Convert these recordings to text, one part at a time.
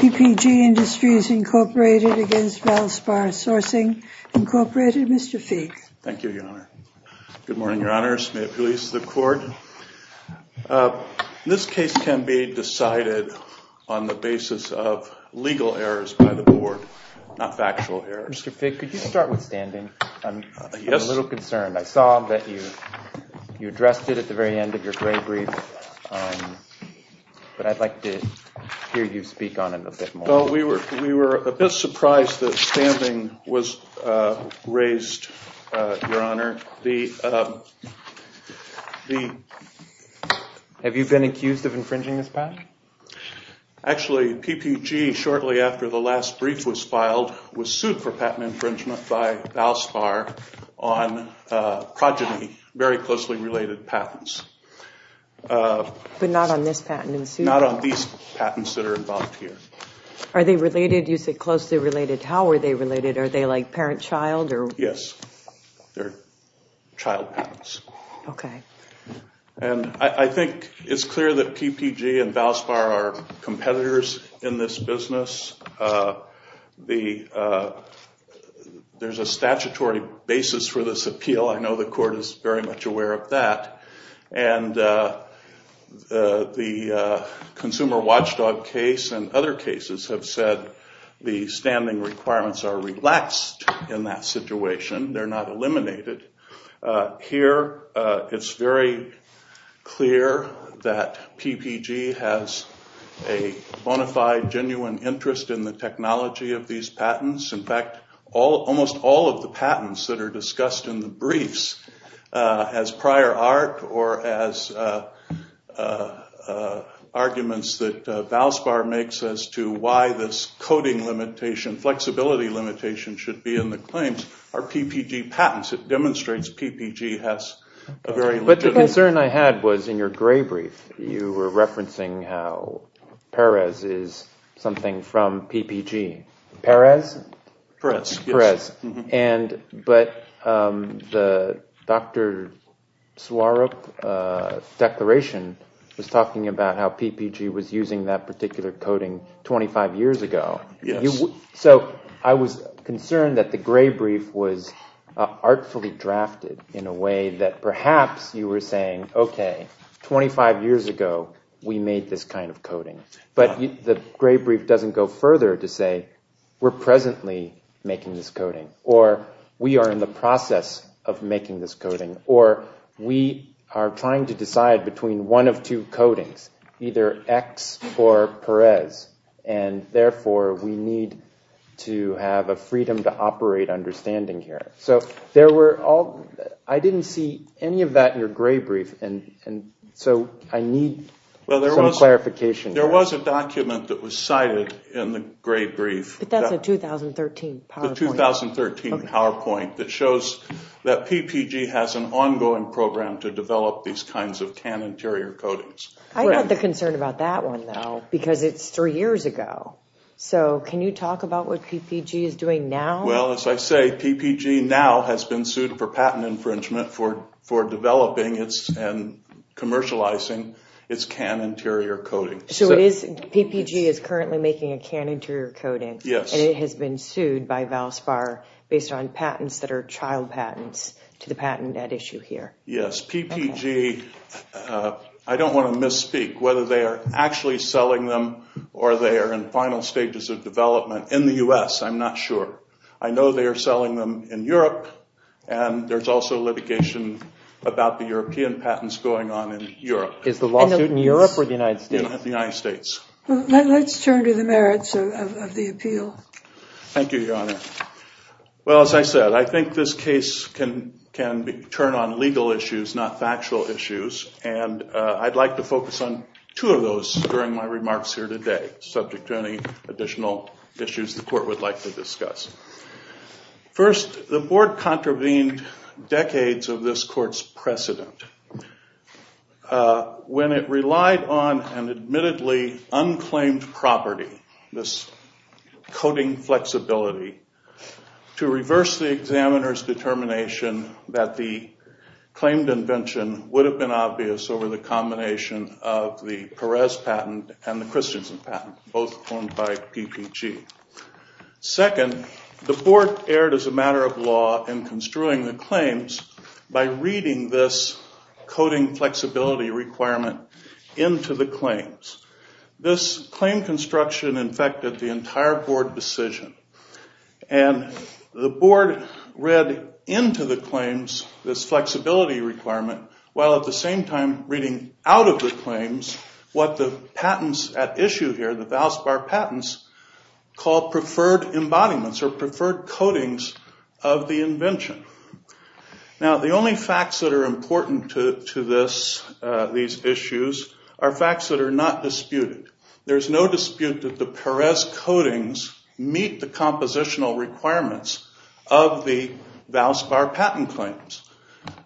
P.P.G. Industries, Inc. v. Valspar Sourcing, Inc. Mr. Feig. Thank you, Your Honor. Good morning, Your Honors. May it please the Court. Your Honor, this case can be decided on the basis of legal errors by the Board, not factual errors. Mr. Feig, could you start with standing? Yes. I'm a little concerned. I saw that you addressed it at the very end of your grave brief, but I'd like to hear you speak on it a bit more. We were a bit surprised that standing was raised, Your Honor. Have you been accused of infringing this patent? Actually, P.P.G., shortly after the last brief was filed, was sued for patent infringement by Valspar on progeny, very closely related patents. But not on this patent? Not on these patents that are involved here. Are they related? You said closely related. How are they related? Are they like parent-child? Yes. They're child patents. I think it's clear that P.P.G. and Valspar are competitors in this business. There's a statutory basis for this appeal. I know the Court is very much aware of that. The Consumer Watchdog case and other cases have said the standing requirements are relaxed in that situation. They're not eliminated. Here it's very clear that P.P.G. has a bona fide, genuine interest in the technology of these patents. In fact, almost all of the patents that are discussed in the briefs as prior art or as arguments that Valspar makes as to why this coding limitation, flexibility limitation should be in the claims are P.P.G. patents. It demonstrates P.P.G. has a very legitimate... But the concern I had was in your gray brief, you were referencing how Perez is something from P.P.G. Perez? Perez, yes. Perez. But the Dr. Swarup declaration was talking about how P.P.G. was using that particular coding 25 years ago. So I was concerned that the gray brief was artfully drafted in a way that perhaps you were saying, okay, 25 years ago, we made this kind of coding, but the gray brief doesn't go further to say we're presently making this coding or we are in the process of making this coding or we are trying to decide between one of two codings, either X or Perez, and therefore we need to have a freedom to operate understanding here. So there were all... I didn't see any of that in your gray brief, and so I need some clarification here. There was a document that was cited in the gray brief. But that's a 2013 PowerPoint. The 2013 PowerPoint that shows that P.P.G. has an ongoing program to develop these kinds of CAN interior codings. I have a concern about that one, though, because it's three years ago. So can you talk about what P.P.G. is doing now? Well, as I say, P.P.G. now has been sued for patent infringement for developing and commercializing its CAN interior coding. So P.P.G. is currently making a CAN interior coding, and it has been sued by Valspar based on patents that are child patents to the patent at issue here. Yes. P.P.G., I don't want to misspeak whether they are actually selling them or they are in final stages of development in the U.S., I'm not sure. I know they are selling them in Europe, and there's also litigation about the European patents going on in Europe. Is the lawsuit in Europe or the United States? The United States. Let's turn to the merits of the appeal. Thank you, Your Honor. Well, as I said, I think this case can turn on legal issues, not factual issues, and I'd like to focus on two of those during my remarks here today, subject to any additional issues the court would like to discuss. First, the board contravened decades of this court's precedent. When it relied on an admittedly unclaimed property, this coding flexibility, to reverse the examiner's determination that the claimed invention would have been obvious over the combination of the Perez patent and the Christensen patent, both formed by P.P.G. Second, the board erred as a matter of law in construing the claims by reading this coding flexibility requirement into the claims. This claim construction infected the entire board decision, and the board read into the claims this flexibility requirement, while at the same time reading out of the claims what the patents at issue here, the Valspar patents, called preferred embodiments or preferred codings of the invention. Now, the only facts that are important to these issues are facts that are not disputed. There is no dispute that the Perez codings meet the compositional requirements of the Valspar patent claims.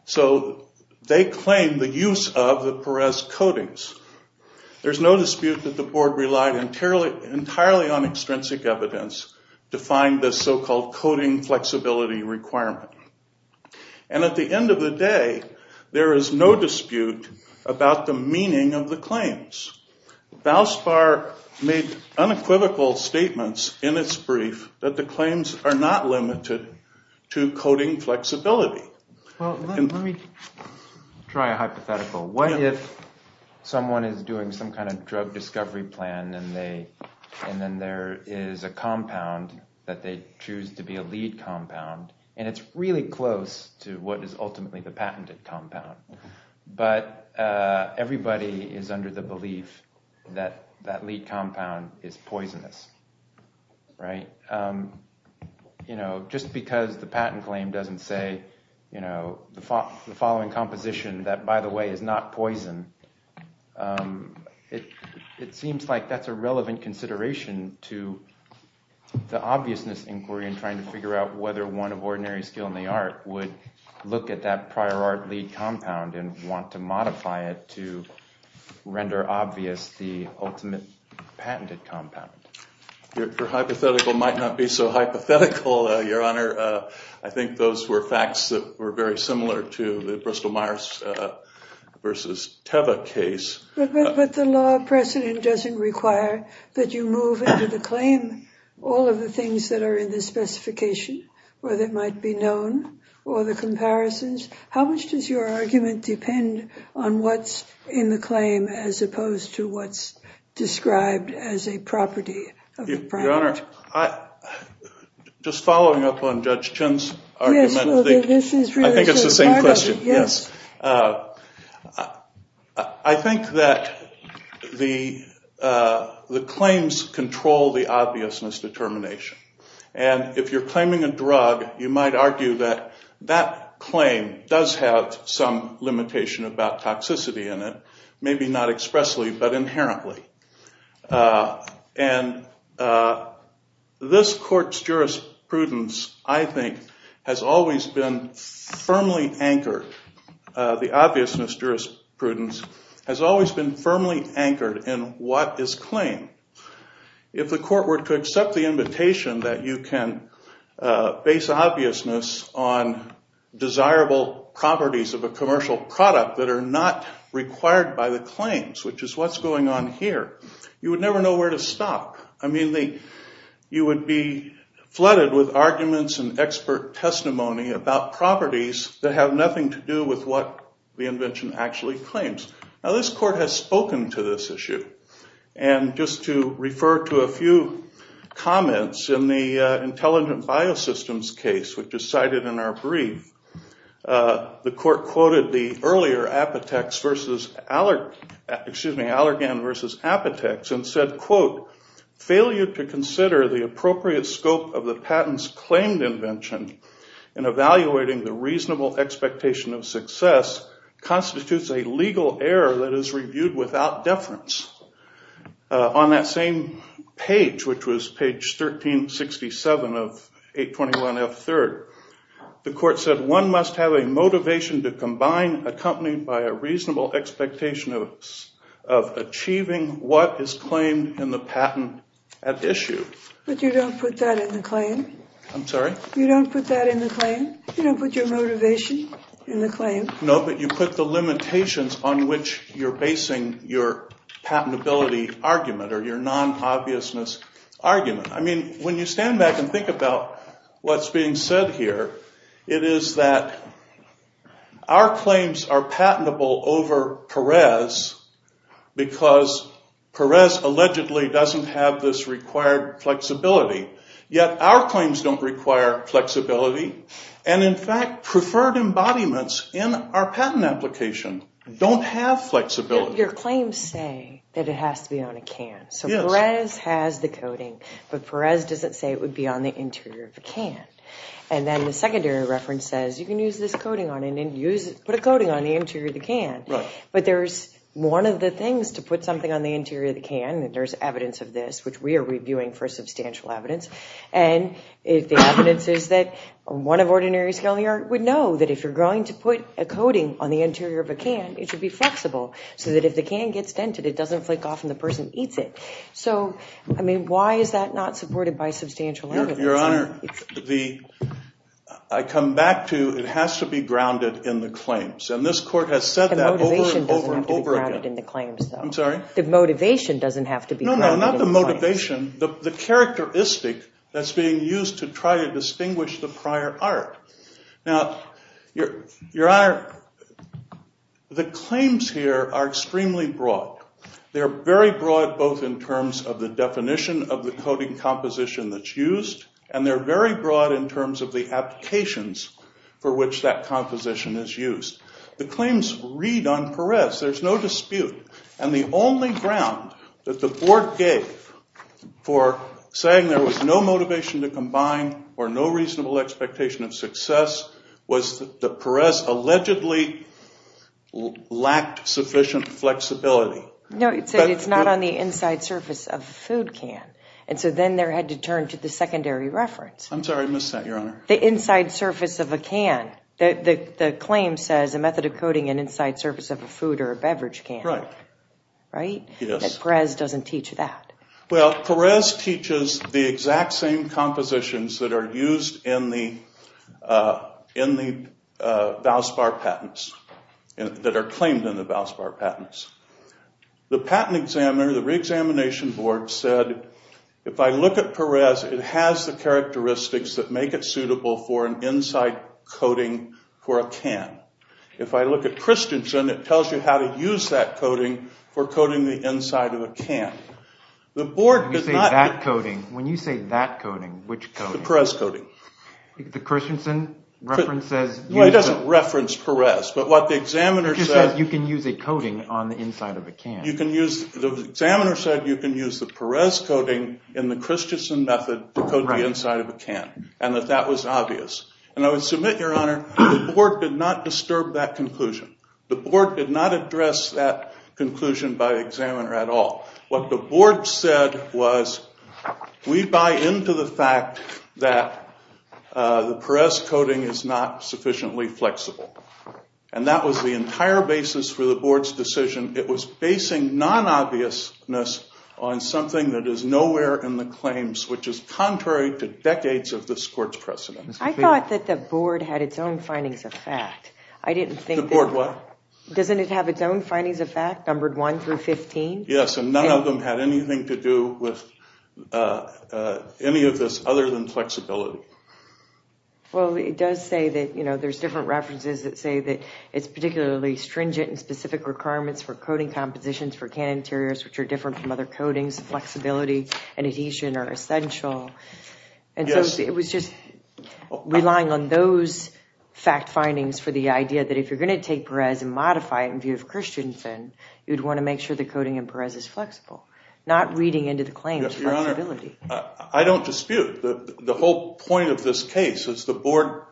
So they claim the use of the Perez codings. There's no dispute that the board relied entirely on extrinsic evidence to find this so-called coding flexibility requirement. And at the end of the day, there is no dispute about the meaning of the claims. Valspar made unequivocal statements in its brief that the claims are not limited to coding flexibility. Well, let me try a hypothetical. What if someone is doing some kind of drug discovery plan, and then there is a compound that they choose to be a lead compound, and it's really close to what is ultimately the patented compound. But everybody is under the belief that that lead compound is poisonous. Right? You know, just because the patent claim doesn't say, you know, the following composition that, by the way, is not poison, it seems like that's a relevant consideration to the obviousness inquiry in trying to figure out whether one of ordinary skill in the art would look at that prior art lead compound and want to modify it to render obvious the ultimate patented compound. Your hypothetical might not be so hypothetical, Your Honor. I think those were facts that were very similar to the Bristol-Myers versus Teva case. But the law precedent doesn't require that you move into the claim all of the things that are in the specification, whether it might be known or the comparisons. How much does your argument depend on what's in the claim as opposed to what's described as a property of the product? Your Honor, just following up on Judge Chin's argument, I think it's the same question. I think that the claims control the obviousness determination, and if you're claiming a drug, you might argue that that claim does have some limitation about toxicity in it, maybe not expressly, but inherently. This court's jurisprudence, I think, has always been firmly anchored, the obviousness jurisprudence has always been firmly anchored in what is claimed. If the court were to accept the invitation that you can base obviousness on desirable properties of a commercial product that are not required by the claims, which is what's going on here, you would never know where to stop. I mean, you would be flooded with arguments and expert testimony about properties that have nothing to do with what the invention actually claims. Now, this court has spoken to this issue, and just to refer to a few comments in the court quoted the earlier Allergan versus Apotex and said, quote, failure to consider the appropriate scope of the patent's claimed invention in evaluating the reasonable expectation of success constitutes a legal error that is reviewed without deference. On that same page, which was page 1367 of 821F3rd, the court said, one must have a motivation to combine accompanied by a reasonable expectation of achieving what is claimed in the patent at issue. But you don't put that in the claim? I'm sorry? You don't put that in the claim? You don't put your motivation in the claim? No, but you put the limitations on which you're basing your patentability argument or your non-obviousness argument. I mean, when you stand back and think about what's being said here, it is that our claims are patentable over Perez because Perez allegedly doesn't have this required flexibility. Yet our claims don't require flexibility. And in fact, preferred embodiments in our patent application don't have flexibility. Your claims say that it has to be on a can. So Perez has the coating, but Perez doesn't say it would be on the interior of a can. And then the secondary reference says you can use this coating on it and put a coating on the interior of the can. But there's one of the things to put something on the interior of the can, and there's evidence of this, which we are reviewing for substantial evidence. And the evidence is that one of ordinaries would know that if you're going to put a coating on the interior of a can, it should be flexible. So that if the can gets dented, it doesn't flake off and the person eats it. So, I mean, why is that not supported by substantial evidence? Your Honor, I come back to it has to be grounded in the claims. And this Court has said that over and over and over again. I'm sorry? The foundation, the characteristic that's being used to try to distinguish the prior art. Now, Your Honor, the claims here are extremely broad. They're very broad both in terms of the definition of the coating composition that's used, and they're very broad in terms of the applications for which that composition is used. The claims read on Perez, there's no dispute. And the only ground that the Court gave for saying there was no motivation to combine or no reasonable expectation of success was that Perez allegedly lacked sufficient flexibility. No, it said it's not on the inside surface of a food can. And so then there had to turn to the secondary reference. I'm sorry, I missed that, Your Honor. The inside surface of a can. The claim says a method of coating an inside surface of a food or a beverage can. Right? Yes. Perez doesn't teach that. Well, Perez teaches the exact same compositions that are used in the Valspar patents, that are claimed in the Valspar patents. The patent examiner, the reexamination board said, if I look at Perez, it has the characteristics that make it suitable for an inside coating for a can. If I look at Christensen, it tells you how to use that coating for coating the inside of a can. The board did not... When you say that coating, which coating? The Perez coating. The Christensen reference says... No, it doesn't reference Perez. But what the examiner said... It just says you can use a coating on the inside of a can. The examiner said you can use the Perez coating in the Christensen method to coat the inside of a can. And that that was obvious. And I would submit, Your Honor, the board did not disturb that conclusion. The board did not address that conclusion by the examiner at all. What the board said was, we buy into the fact that the Perez coating is not sufficiently flexible. And that was the entire basis for the board's decision. It was basing non-obviousness on something that is nowhere in the claims, which is contrary to decades of this court's precedent. I thought that the board had its own findings of fact. I didn't think... The board what? Doesn't it have its own findings of fact, numbered 1 through 15? Yes, and none of them had anything to do with any of this other than flexibility. Well, it does say that, you know, there's different references that say that it's particularly stringent in specific requirements for coating compositions for can interiors which are different from other coatings. Flexibility and adhesion are essential. And so it was just relying on those fact findings for the idea that if you're going to take Perez and modify it in view of Christensen, you'd want to make sure the coating in Perez is flexible. Not reading into the claims flexibility. Yes, Your Honor, I don't dispute the whole point of this case is the board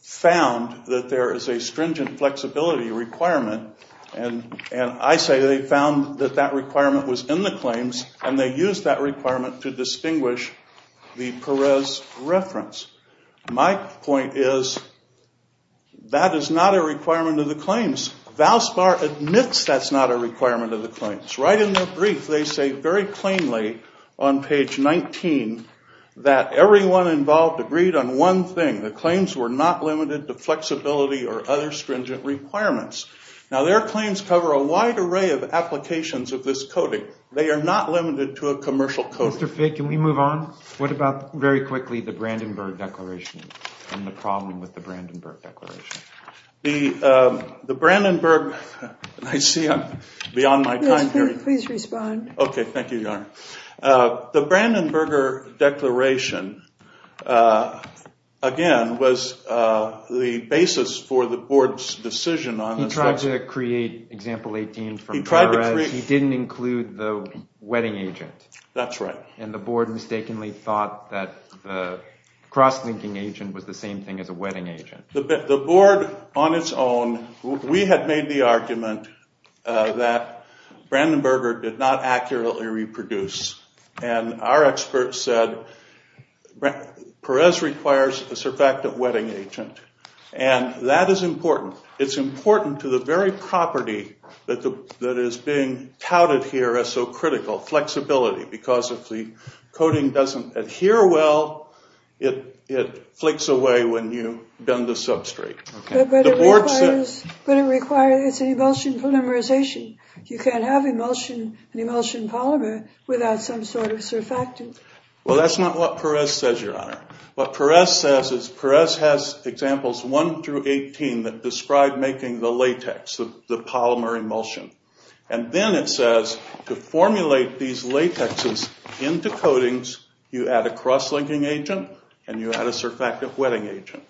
found that there is a stringent flexibility requirement and I say they found that that requirement was in the claims and they used that requirement to distinguish the Perez reference. My point is that is not a requirement of the claims. Valspar admits that's not a requirement of the claims. Right in their brief, they say very plainly on page 19 that everyone involved agreed on one thing. The claims were not limited to flexibility or other stringent requirements. Now their claims cover a wide array of applications of this coating. They are not limited to a commercial coating. Mr. Figg, can we move on? What about very quickly the Brandenburg Declaration and the problem with the Brandenburg Declaration? The Brandenburg, I see I'm beyond my time here. Please respond. Okay, thank you, Your Honor. The Brandenburg Declaration, again, was the basis for the board's decision on He tried to create example 18 from Perez. He didn't include the wedding agent. That's right. And the board mistakenly thought that the cross-linking agent was the same thing as a wedding agent. The board on its own, we had made the argument that Brandenburg did not accurately reproduce. And our experts said Perez requires a surfactant wedding agent. And that is important. It's important to the very property that is being touted here as so critical, flexibility, because if the coating doesn't adhere well, it flicks away when you bend the substrate. But it requires an emulsion polymerization. You can't have an emulsion polymer without some sort of surfactant. Well, that's not what Perez says, Your Honor. What Perez says is Perez has examples 1 through 18 that describe making the latex, the polymer emulsion. And then it says to formulate these latexes into coatings, you add a cross-linking agent and you add a surfactant wedding agent.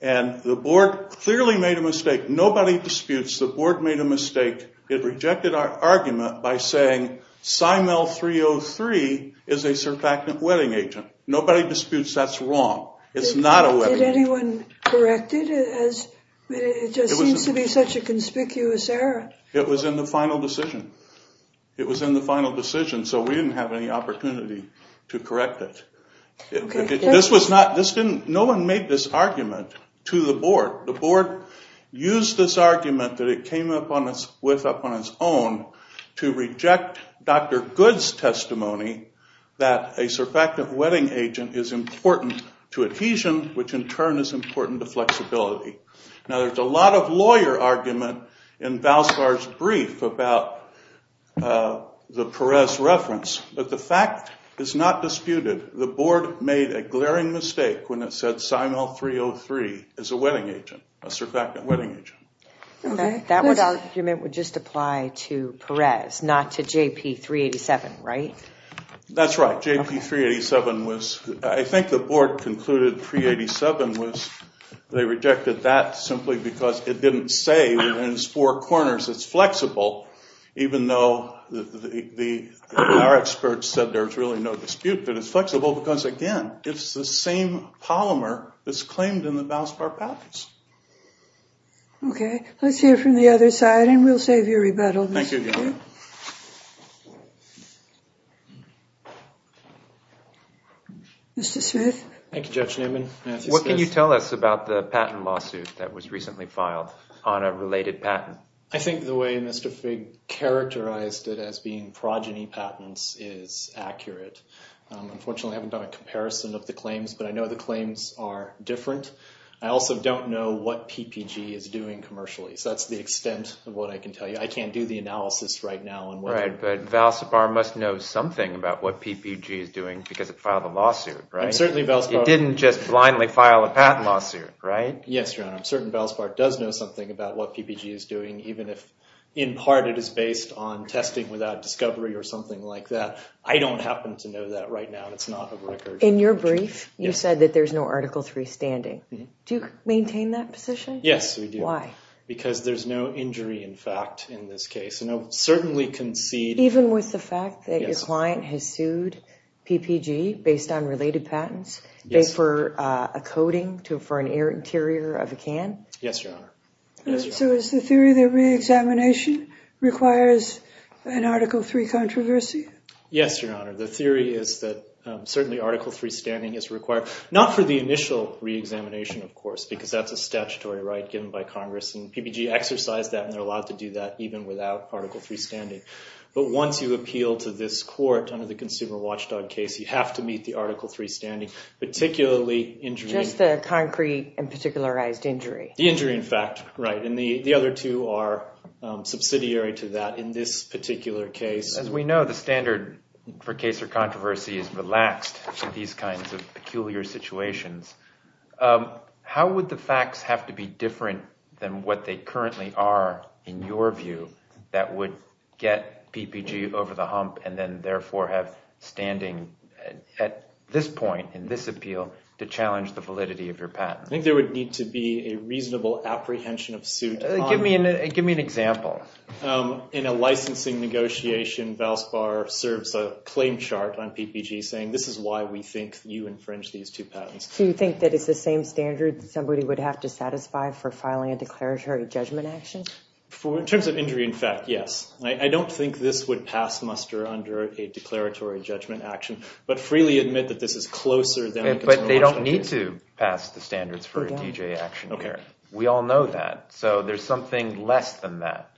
And the board clearly made a mistake. Nobody disputes the board made a mistake. It rejected our argument by saying Simel 303 is a surfactant wedding agent. Nobody disputes that's wrong. It's not a wedding agent. Did anyone correct it? It just seems to be such a conspicuous error. It was in the final decision. It was in the final decision, so we didn't have any opportunity to correct it. No one made this argument to the board. The board used this argument that it came up with on its own to reject Dr. Good's testimony that a surfactant wedding agent is important to adhesion, which in turn is important to flexibility. Now, there's a lot of lawyer argument in Valspar's brief about the Perez reference, but the fact is not disputed. The board made a glaring mistake when it said Simel 303 is a wedding agent, a surfactant wedding agent. That argument would just apply to Perez, not to JP 387, right? That's right. JP 387 was, I think the board concluded 387 was, they rejected that simply because it didn't say within its four corners it's flexible, even though our experts said there's really no dispute that it's flexible because, again, it's the same polymer that's claimed in the Valspar patents. Okay, let's hear from the other side, and we'll save you a rebuttal. Thank you. Mr. Smith? Thank you, Judge Newman. What can you tell us about the patent lawsuit that was recently filed on a related patent? I think the way Mr. Figg characterized it as being progeny patents is accurate. Unfortunately, I haven't done a comparison of the claims, but I know the claims are different. I also don't know what PPG is doing commercially, so that's the extent of what I can tell you. I can't do the analysis right now. Right, but Valspar must know something about what PPG is doing because it filed a lawsuit, right? It didn't just blindly file a patent lawsuit, right? Yes, Your Honor. I'm certain Valspar does know something about what PPG is doing, even if in part it is based on testing without discovery or something like that. I don't happen to know that right now. It's not a record. In your brief, you said that there's no Article III standing. Do you maintain that position? Yes, we do. Why? Because there's no injury in fact in this case, and I'll certainly concede— Even with the fact that your client has sued PPG based on related patents for a coating for an air interior of a can? Yes, Your Honor. So is the theory that re-examination requires an Article III controversy? Yes, Your Honor. The theory is that certainly Article III standing is required. Not for the initial re-examination, of course, because that's a statutory right given by Congress, and PPG exercised that and they're allowed to do that even without Article III standing. But once you appeal to this court under the Consumer Watchdog case, you have to meet the Article III standing, particularly— Just the concrete and particularized injury? The injury in fact, right. And the other two are subsidiary to that in this particular case. As we know, the standard for case or controversy is relaxed in these kinds of peculiar situations. How would the facts have to be different than what they currently are in your view that would get PPG over the hump and then therefore have standing at this point in this appeal to challenge the validity of your patent? I think there would need to be a reasonable apprehension of suit. Give me an example. In a licensing negotiation, Valspar serves a claim chart on PPG saying this is why we think you infringed these two patents. Do you think that it's the same standard that somebody would have to satisfy for filing a declaratory judgment action? In terms of injury in fact, yes. I don't think this would pass muster under a declaratory judgment action, but freely admit that this is closer than— They don't need to pass the standards for a DJ action here. We all know that. So there's something less than that.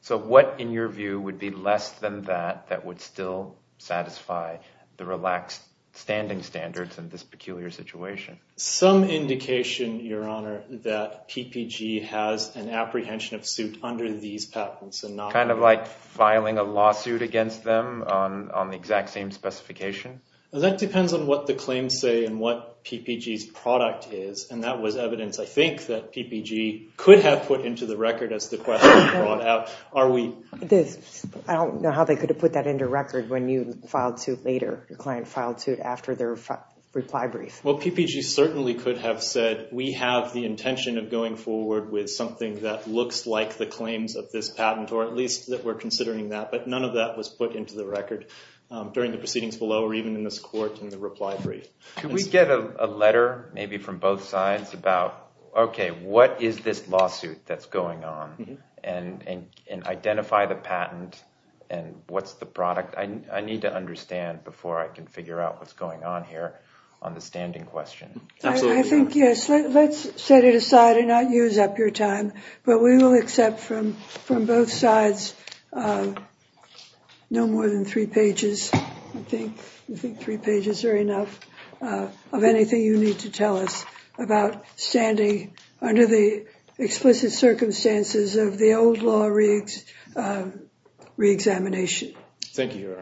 So what in your view would be less than that that would still satisfy the relaxed standing standards in this peculiar situation? Some indication, Your Honor, that PPG has an apprehension of suit under these patents. Kind of like filing a lawsuit against them on the exact same specification? That depends on what the claims say and what PPG's product is. And that was evidence, I think, that PPG could have put into the record as the question was brought out. I don't know how they could have put that into record when you filed suit later, your client filed suit after their reply brief. Well, PPG certainly could have said we have the intention of going forward with something that looks like the claims of this patent or at least that we're considering that. But none of that was put into the record during the proceedings below or even in this court in the reply brief. Could we get a letter maybe from both sides about, okay, what is this lawsuit that's going on? And identify the patent and what's the product? I need to understand before I can figure out what's going on here on the standing question. I think, yes, let's set it aside and not use up your time. But we will accept from both sides no more than three pages. I think three pages are enough of anything you need to tell us about standing under the explicit circumstances of the old law reexamination. Thank you, Your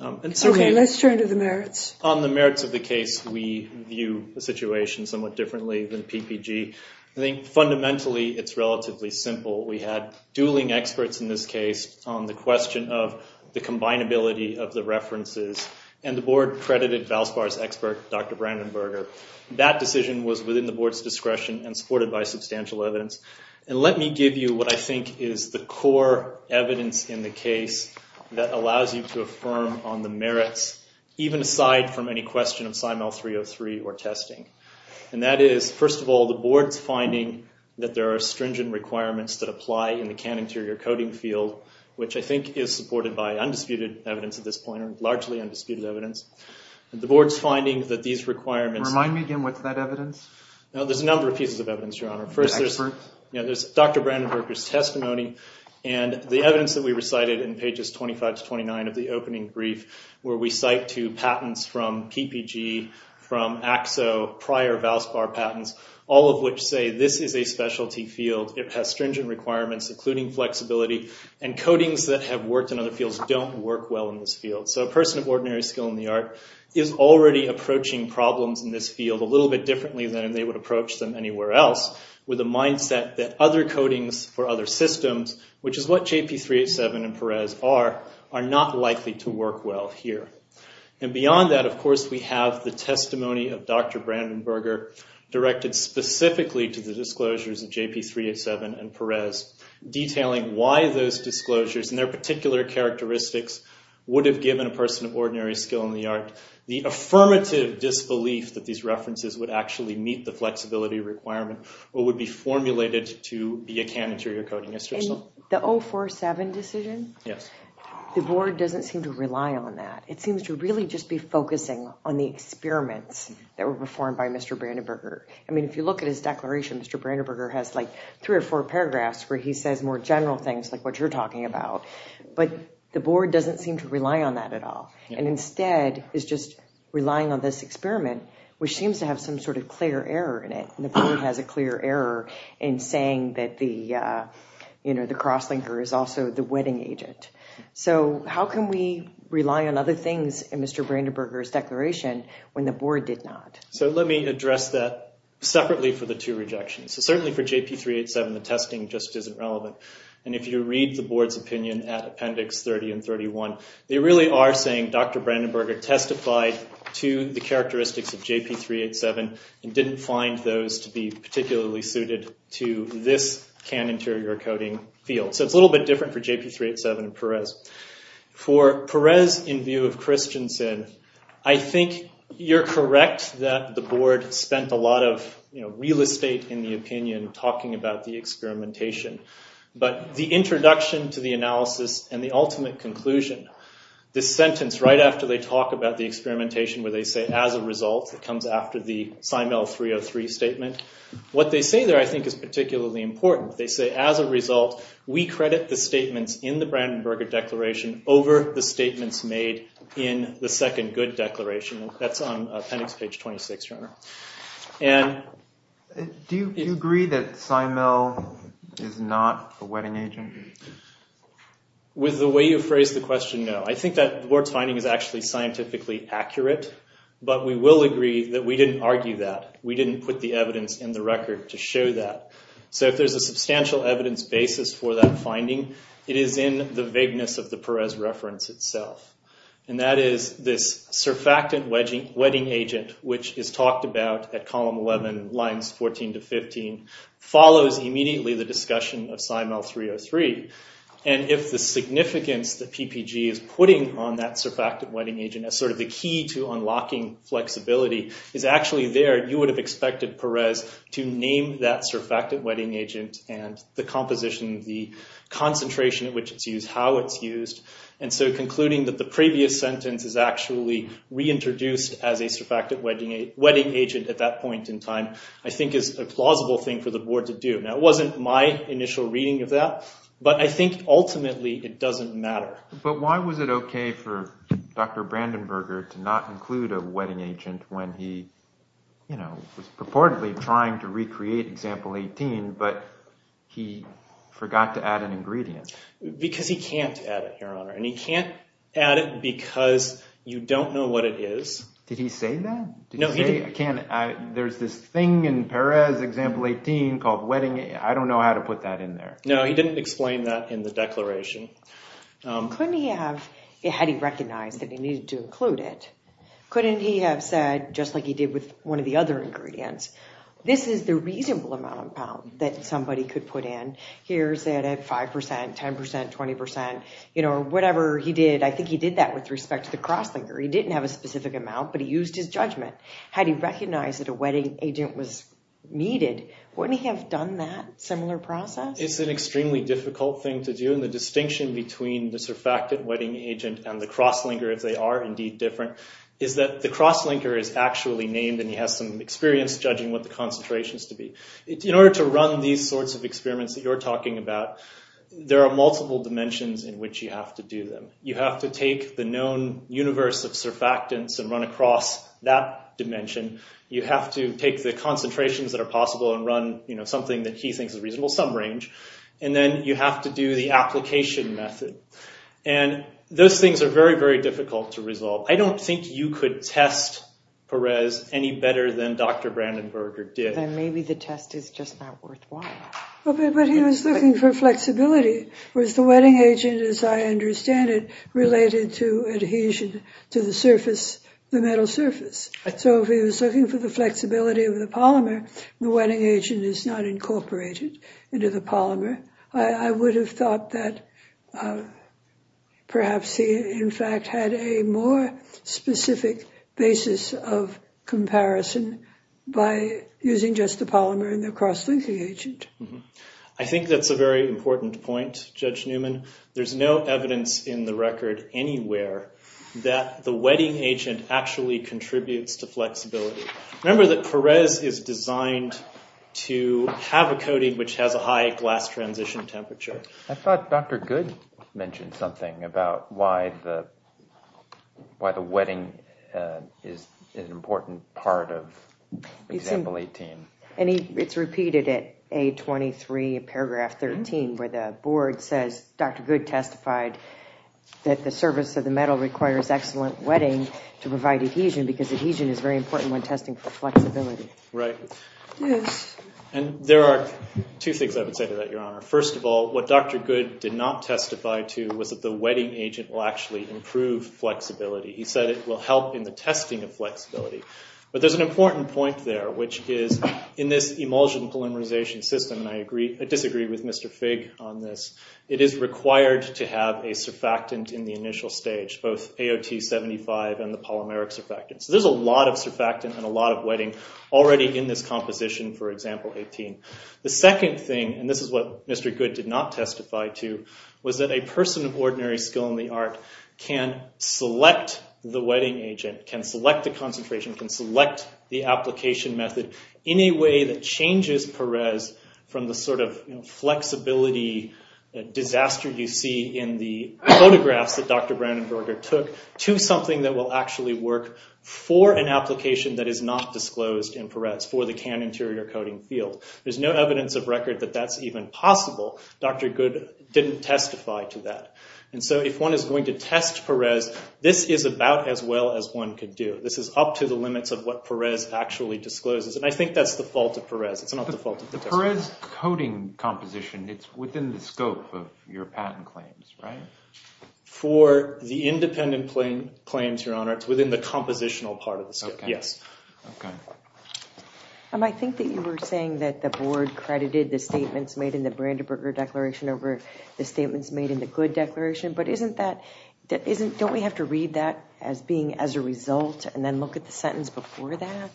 Honor. Okay, let's turn to the merits. On the merits of the case, we view the situation somewhat differently than PPG. I think, fundamentally, it's relatively simple. We had dueling experts in this case on the question of the combinability of the references. And the board credited Valspar's expert, Dr. Brandenberger. That decision was within the board's discretion and supported by substantial evidence. And let me give you what I think is the core evidence in the case that allows you to affirm on the merits, even aside from any question of Simel 303 or testing. And that is, first of all, the board's finding that there are stringent requirements that apply in the can-interior coding field, which I think is supported by undisputed evidence at this point, or largely undisputed evidence. The board's finding that these requirements... Remind me again, what's that evidence? There's a number of pieces of evidence, Your Honor. First, there's Dr. Brandenberger's testimony. And the evidence that we recited in pages 25 to 29 of the opening brief where we cite two patents from PPG, from AXO, prior Valspar patents, all of which say this is a specialty field. It has stringent requirements, including flexibility. And codings that have worked in other fields don't work well in this field. So a person of ordinary skill in the art is already approaching problems in this field a little bit differently than they would approach them anywhere else with a mindset that other codings for other systems, which is what JP387 and Perez are, are not likely to work well here. And beyond that, of course, we have the testimony of Dr. Brandenberger directed specifically to the disclosures of JP387 and Perez detailing why those disclosures and their particular characteristics would have given a person of ordinary skill in the art the affirmative disbelief that these references would actually meet the flexibility requirement or would be formulated to be a can interior coding institution. The 047 decision? Yes. The board doesn't seem to rely on that. It seems to really just be focusing on the experiments that were performed by Mr. Brandenberger. I mean, if you look at his declaration, Mr. Brandenberger has like three or four paragraphs where he says more general things like what you're talking about. But the board doesn't seem to rely on that at all. And instead is just relying on this experiment which seems to have some sort of clear error in it. And the board has a clear error in saying that the cross-linker is also the wedding agent. So how can we rely on other things in Mr. Brandenberger's declaration when the board did not? So let me address that separately for the two rejections. So certainly for JP387 the testing just isn't relevant. And if you read the board's opinion at appendix 30 and 31 they really are saying Dr. Brandenberger testified to the characteristics of JP387 and didn't find those to be particularly suited to this can interior coding field. So it's a little bit different for JP387 and Perez. For Perez, in view of Christiansen, I think you're correct that the board spent a lot of real estate in the opinion talking about the experimentation. But the introduction to the analysis and the ultimate conclusion this sentence right after they talk about the experimentation where they say as a result it comes after the Simel 303 statement what they say there I think is particularly important. They say as a result we credit the statements in the Brandenberger declaration over the statements made in the second good declaration. That's on appendix page 26. Do you agree that Simel is not a wetting agent? With the way you phrased the question, no. I think that the board's finding is actually scientifically accurate. But we will agree that we didn't argue that. We didn't put the evidence in the record So if there's a substantial evidence basis for that finding, it is in the vagueness of the Perez reference itself. And that is this surfactant wetting agent which is talked about at column 11 lines 14 to 15 follows immediately the discussion of Simel 303 and if the significance that PPG is putting on that surfactant wetting agent as sort of the key to unlocking flexibility is actually there you would have expected Perez to name that surfactant wetting agent and the composition the concentration at which it's used how it's used and so concluding that the previous sentence is actually reintroduced as a surfactant wetting agent at that point in time I think is a plausible thing for the board to do. Now it wasn't my initial reading of that but I think ultimately it doesn't matter. But why was it okay for Dr. Brandenberger to not include a wetting agent when he was purportedly trying to recreate example 18 but he forgot to add an ingredient? Because he can't add it your honor and he can't add it because you don't know what it is Did he say that? There's this thing in Perez example 18 called wetting I don't know how to put that in there No he didn't explain that in the declaration Couldn't he have had he recognized that he needed to include it couldn't he have said just like he did with one of the other ingredients this is the reasonable amount of pound that somebody could put in 5%, 10%, 20% whatever he did I think he did that with respect to the crosslinker he didn't have a specific amount but he used his judgment had he recognized that a wetting agent was needed wouldn't he have done that similar process? It's an extremely difficult thing to do and the distinction between the surfactant wetting agent and the crosslinker if they are indeed different is that the crosslinker is actually named and he has some experience judging what the concentration is to be in order to run these sorts of experiments that you're talking about there are multiple dimensions in which you have to do them you have to take the known universe of surfactants and run across that dimension you have to take the concentrations that are possible and run something that he thinks is reasonable some range and then you have to do the application method and those things are very very difficult to resolve I don't think you could test Perez any better than Dr. Brandenberger did then maybe the test is just not worthwhile but he was looking for flexibility whereas the wetting agent as I understand it related to adhesion to the surface the metal surface so if he was looking for the flexibility of the polymer the wetting agent is not incorporated into the polymer I would have thought that perhaps he in fact had a more specific basis of comparison by using just the polymer and the cross-linking agent I think that's a very important point, Judge Newman there's no evidence in the record anywhere that the wetting agent actually contributes to flexibility remember that Perez is designed to have a coating which has a high glass transition temperature I thought Dr. Goode mentioned something about why the why the wetting is an important part of example 18 and it's repeated at A23 paragraph 13 where the board says Dr. Goode testified that the surface of the metal requires excellent wetting to provide adhesion because adhesion is very important when testing for flexibility right and there are two things I would say to that your honor, first of all what Dr. Goode did not testify to was that the flexibility, he said it will help in the testing of flexibility but there's an important point there which is in this emulsion polymerization system and I disagree with Mr. Fig on this, it is required to have a surfactant in the initial stage, both AOT 75 and the polymeric surfactant, so there's a lot of surfactant and a lot of wetting already in this composition for example 18 the second thing and this is what Mr. Goode did not testify to was that a person of ordinary skill in the art can select the wetting agent, can select the concentration, can select the application method in a way that changes Perez from the sort of flexibility disaster you see in the photographs that Dr. Brandenburger took to something that will actually work for an application that is not disclosed in Perez for the can interior coating field, there's no evidence of record that that's even possible Dr. Goode didn't testify to that, and so if one is going to test Perez, this is about as well as one could do, this is up to the limits of what Perez actually discloses and I think that's the fault of Perez it's not the fault of the test. The Perez coating composition, it's within the scope of your patent claims, right? For the independent claims, your honor, it's within the compositional part of the scope, yes. Okay. I think that you were saying that the board credited the statements made in the Brandenburger declaration over the statements made in the Goode declaration, but isn't that don't we have to read that as being as a result and then look at the sentence before that?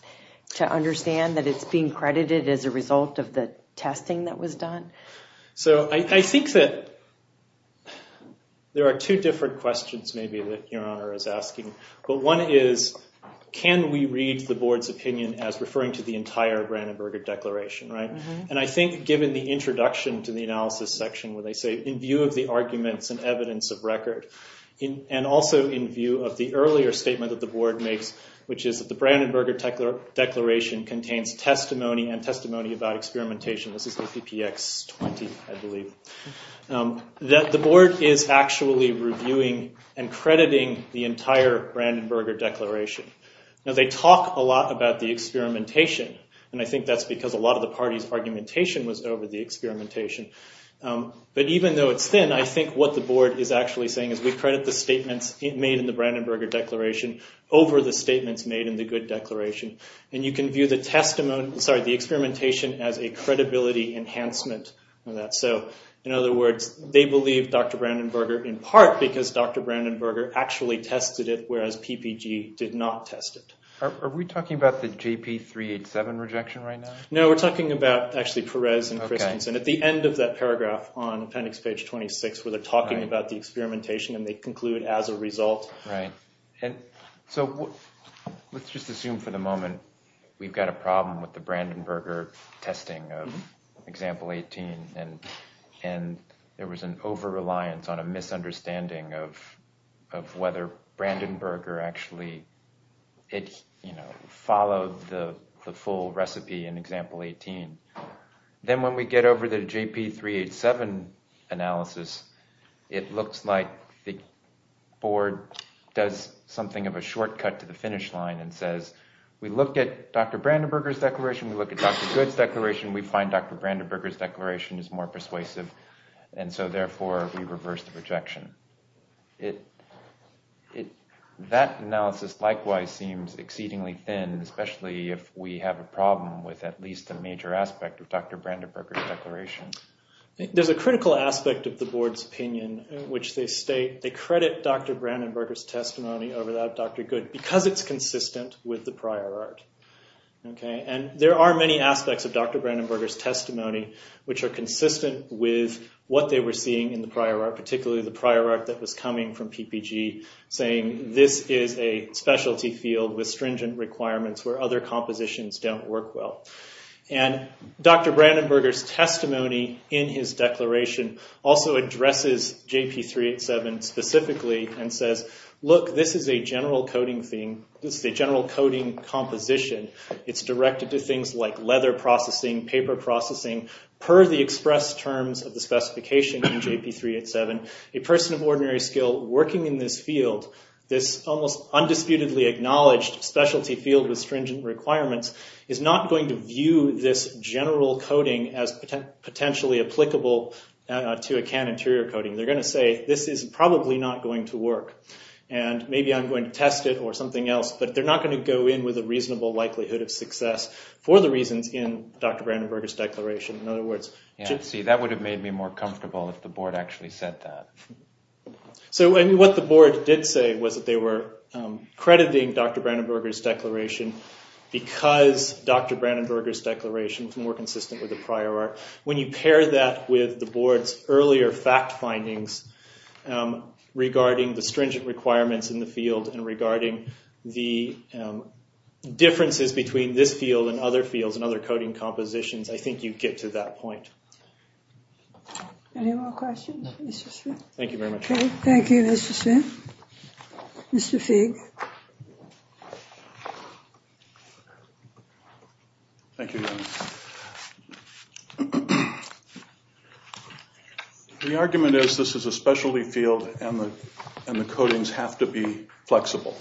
To understand that it's being credited as a result of the testing that was done? So I think that there are two different questions maybe that your honor is asking, but one is can we read the board's opinion as referring to the entire Brandenburger declaration, right? And I think given the introduction to the analysis section where they say in view of the arguments and evidence of record and also in view of the earlier statement that the board makes which is that the Brandenburger declaration contains testimony and testimony about experimentation, this is OPPX 20, I believe that the board is actually reviewing and crediting the entire Brandenburger declaration. Now they talk a lot about the experimentation and I think that's because a lot of the party's argumentation was over the experimentation but even though it's thin, I think what the board is actually saying is we credit the statements made in the Brandenburger declaration over the statements made in the Goode declaration and you can view the experimentation as a credibility enhancement of that. So in other words, they believe Dr. Brandenburger in part because Dr. Brandenburger actually tested it whereas PPG did not test it. Are we talking about the JP 387 rejection right now? No, we're talking about actually Perez and Christensen. At the end of that paragraph on appendix page 26 where they're talking about the experimentation and they conclude as a result. Right. And so let's just assume for the moment we've got a problem with the Brandenburger testing of example 18 and there was an over-reliance on a misunderstanding of whether Brandenburger actually followed the full recipe in example 18. Then when we get over the JP 387 analysis, it looks like the board does something of a shortcut to the finish line and says we look at Dr. Brandenburger's declaration, we look at Dr. Goode's declaration, we find Dr. Brandenburger's declaration is more persuasive and so therefore we reverse the rejection. It that analysis likewise seems exceedingly thin especially if we have a problem with at least a major aspect of Dr. Brandenburger's declaration. There's a critical aspect of the board's opinion in which they state they credit Dr. Brandenburger's testimony over that of Dr. Goode because it's consistent with the prior art. And there are many aspects of Dr. Brandenburger's testimony which are consistent with what they were seeing in the prior art, particularly the prior art that was coming from PPG saying this is a specialty field with stringent requirements where other compositions don't work well. And Dr. Brandenburger's testimony in his declaration also addresses JP 387 specifically and says look this is a general coding thing, this is a general coding composition. It's directed to things like leather processing, paper processing, per the express terms of the specification in JP 387. A person of ordinary skill working in this field this almost undisputedly acknowledged specialty field with stringent requirements is not going to view this general coding as potentially applicable to a can interior coding. They're going to say this is probably not going to work and maybe I'm going to test it or something else but they're not going to go in with a reasonable likelihood of success for the reasons in Dr. Brandenburger's declaration. That would have made me more comfortable if the board actually said that. What the board did say was that they were crediting Dr. Brandenburger's declaration because Dr. Brandenburger's declaration was more consistent with the prior art. When you pair that with the board's earlier fact findings regarding the stringent requirements in the field and regarding the differences between this field and other fields and other coding compositions, I think you'd get to that point. Any more questions? Thank you very much. Thank you, Mr. Smith. Mr. Figg. Thank you. The argument is this is a specialty field and the codings have to be flexible.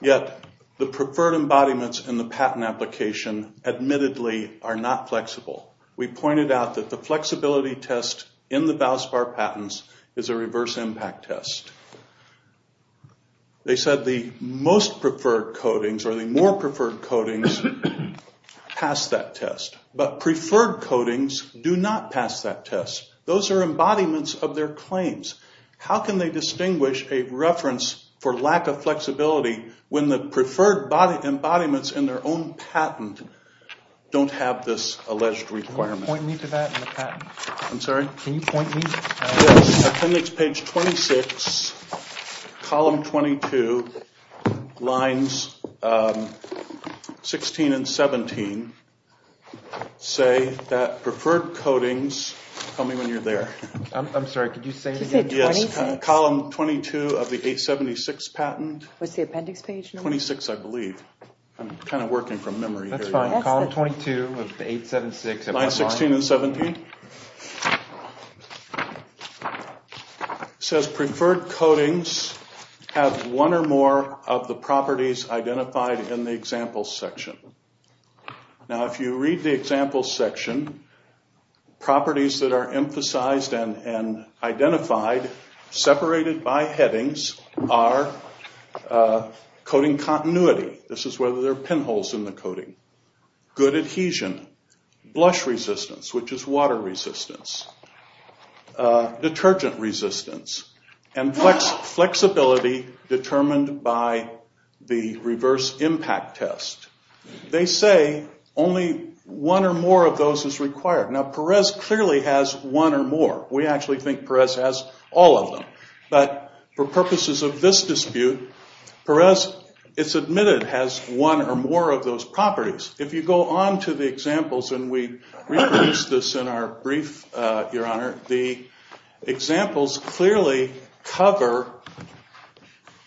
Yet, the preferred embodiments in the patent application admittedly are not flexible. We pointed out that the flexibility test in the Valspar patents is a reverse impact test. They said the most preferred codings or the more preferred codings pass that test. But preferred codings do not pass that test. Those are embodiments of their claims. How can they distinguish a reference for lack of flexibility when the preferred embodiments in their own patent don't have this alleged requirement? Can you point me to that in the patent? I'm sorry? Can you point me? Yes, appendix page 26, column 22, lines 16 and 17 say that preferred codings tell me when you're there. I'm sorry, could you say it again? Yes, column 22 of the appendix page 26, I believe. I'm kind of working from memory here. That's fine, column 22 of 876 Line 16 and 17 says preferred codings have one or more of the properties identified in the example section. Now, if you read the example section, properties that are emphasized and identified separated by headings are coding continuity. This is whether there are pinholes in the coding. Good adhesion. Blush resistance, which is water resistance. Detergent resistance. And flexibility determined by the reverse impact test. They say only one or more of those is required. Now, Perez clearly has one or more. We actually think Perez has all of them, but for purposes of this dispute, Perez, it's admitted, has one or more of those properties. If you go on to the examples, and we reproduced this in our brief, Your Honor, the examples clearly cover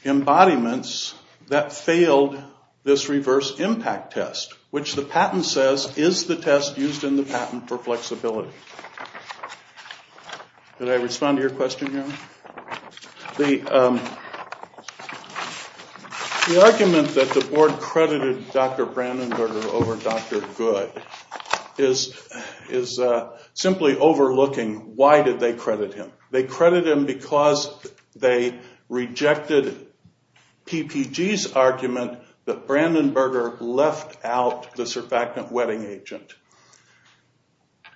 embodiments that failed this reverse impact test, which the patent says is the test used in the patent for flexibility. Did I respond to your question, Your Honor? The the board credited Dr. Brandenburger over Dr. Good is simply overlooking why did they credit him. They credit him because they rejected PPG's argument that Brandenburger left out the surfactant wetting agent.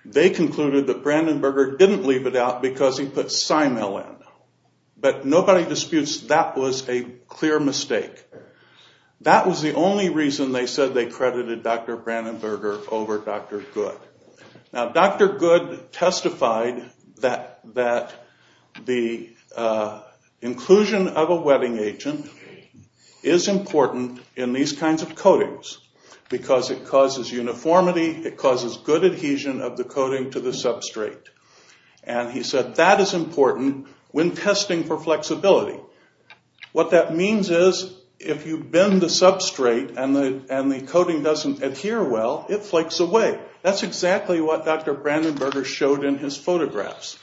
They concluded that Brandenburger didn't leave it out because he put Simel in. But nobody disputes that was a clear mistake. That was the only reason they said they credited Dr. Brandenburger over Dr. Good. Now, Dr. Good testified that the inclusion of a wetting agent is important in these kinds of coatings because it causes uniformity, it causes good adhesion of the coating to the substrate. He said that is important when testing for flexibility. What that means is if you bend the substrate and the coating doesn't adhere well, it flakes away. That's exactly what Dr. Brandenburger showed in his photographs.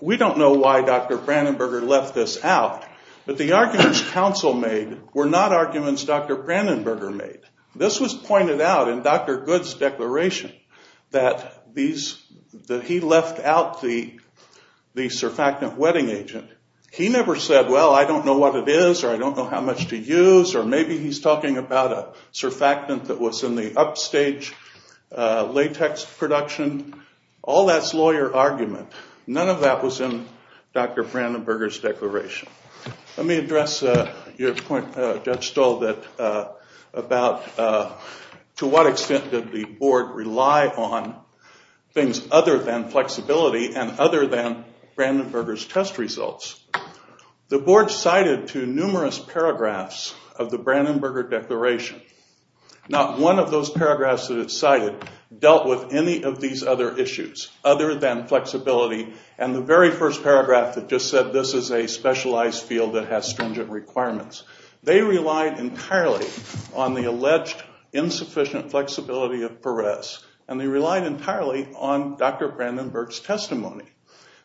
We don't know why Dr. Brandenburger left this out, but the arguments counsel made were not arguments Dr. Brandenburger made. This was pointed out in Dr. Good's declaration that he left out the surfactant wetting agent. He never said, well, I don't know what it is, or I don't know how much to use, or maybe he's talking about a surfactant that was in the upstage latex production. All that's lawyer argument. None of that was in Dr. Brandenburger's declaration. Let me address your point, Judge Stoll, about to what extent did the board rely on things other than flexibility and other than Brandenburger's test results. The board cited to numerous paragraphs of the Brandenburger declaration not one of those paragraphs that it cited dealt with any of these other issues other than flexibility, and the very first paragraph that just said this is a specialized field that has stringent requirements. They relied entirely on the alleged insufficient flexibility of Perez, and they relied entirely on Dr. Brandenburg's testimony.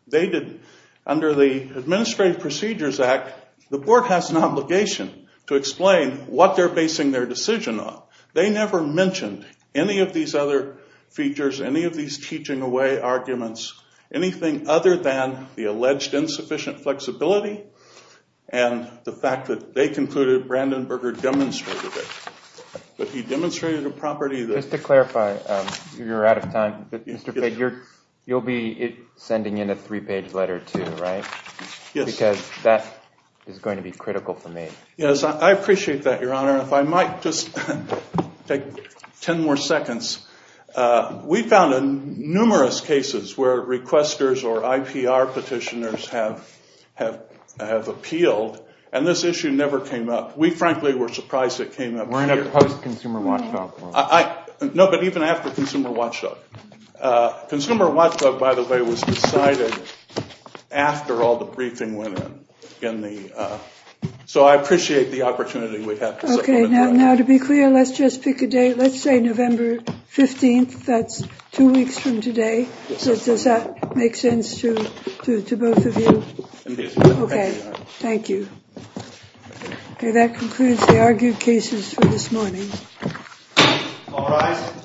They didn't. Under the Administrative Procedures Act, the board has an obligation to explain what they're basing their decision on. They never mentioned any of these other features, any of these teaching away arguments, anything other than the alleged insufficient flexibility and the fact that they concluded Brandenburger demonstrated it. But he demonstrated a property that... Just to clarify, you're out of time, but Mr. Figg, you'll be sending in a three-page letter too, right? Yes. Because that is going to be critical for me. Yes, I appreciate that, Your Honor. If I might just take ten more seconds, we found numerous cases where requesters or IPR petitioners have appealed, and this issue never came up. We, frankly, were surprised it came up. We're in a post-consumer watchdog world. No, but even after consumer watchdog. Consumer watchdog, by the way, was decided after all the briefing went in. So I appreciate the opportunity we have. Okay, now to be clear, let's just pick a date. Let's say November 15th. That's two make sense to both of you? Okay. Thank you. Okay, that concludes the argued cases for this morning. All rise.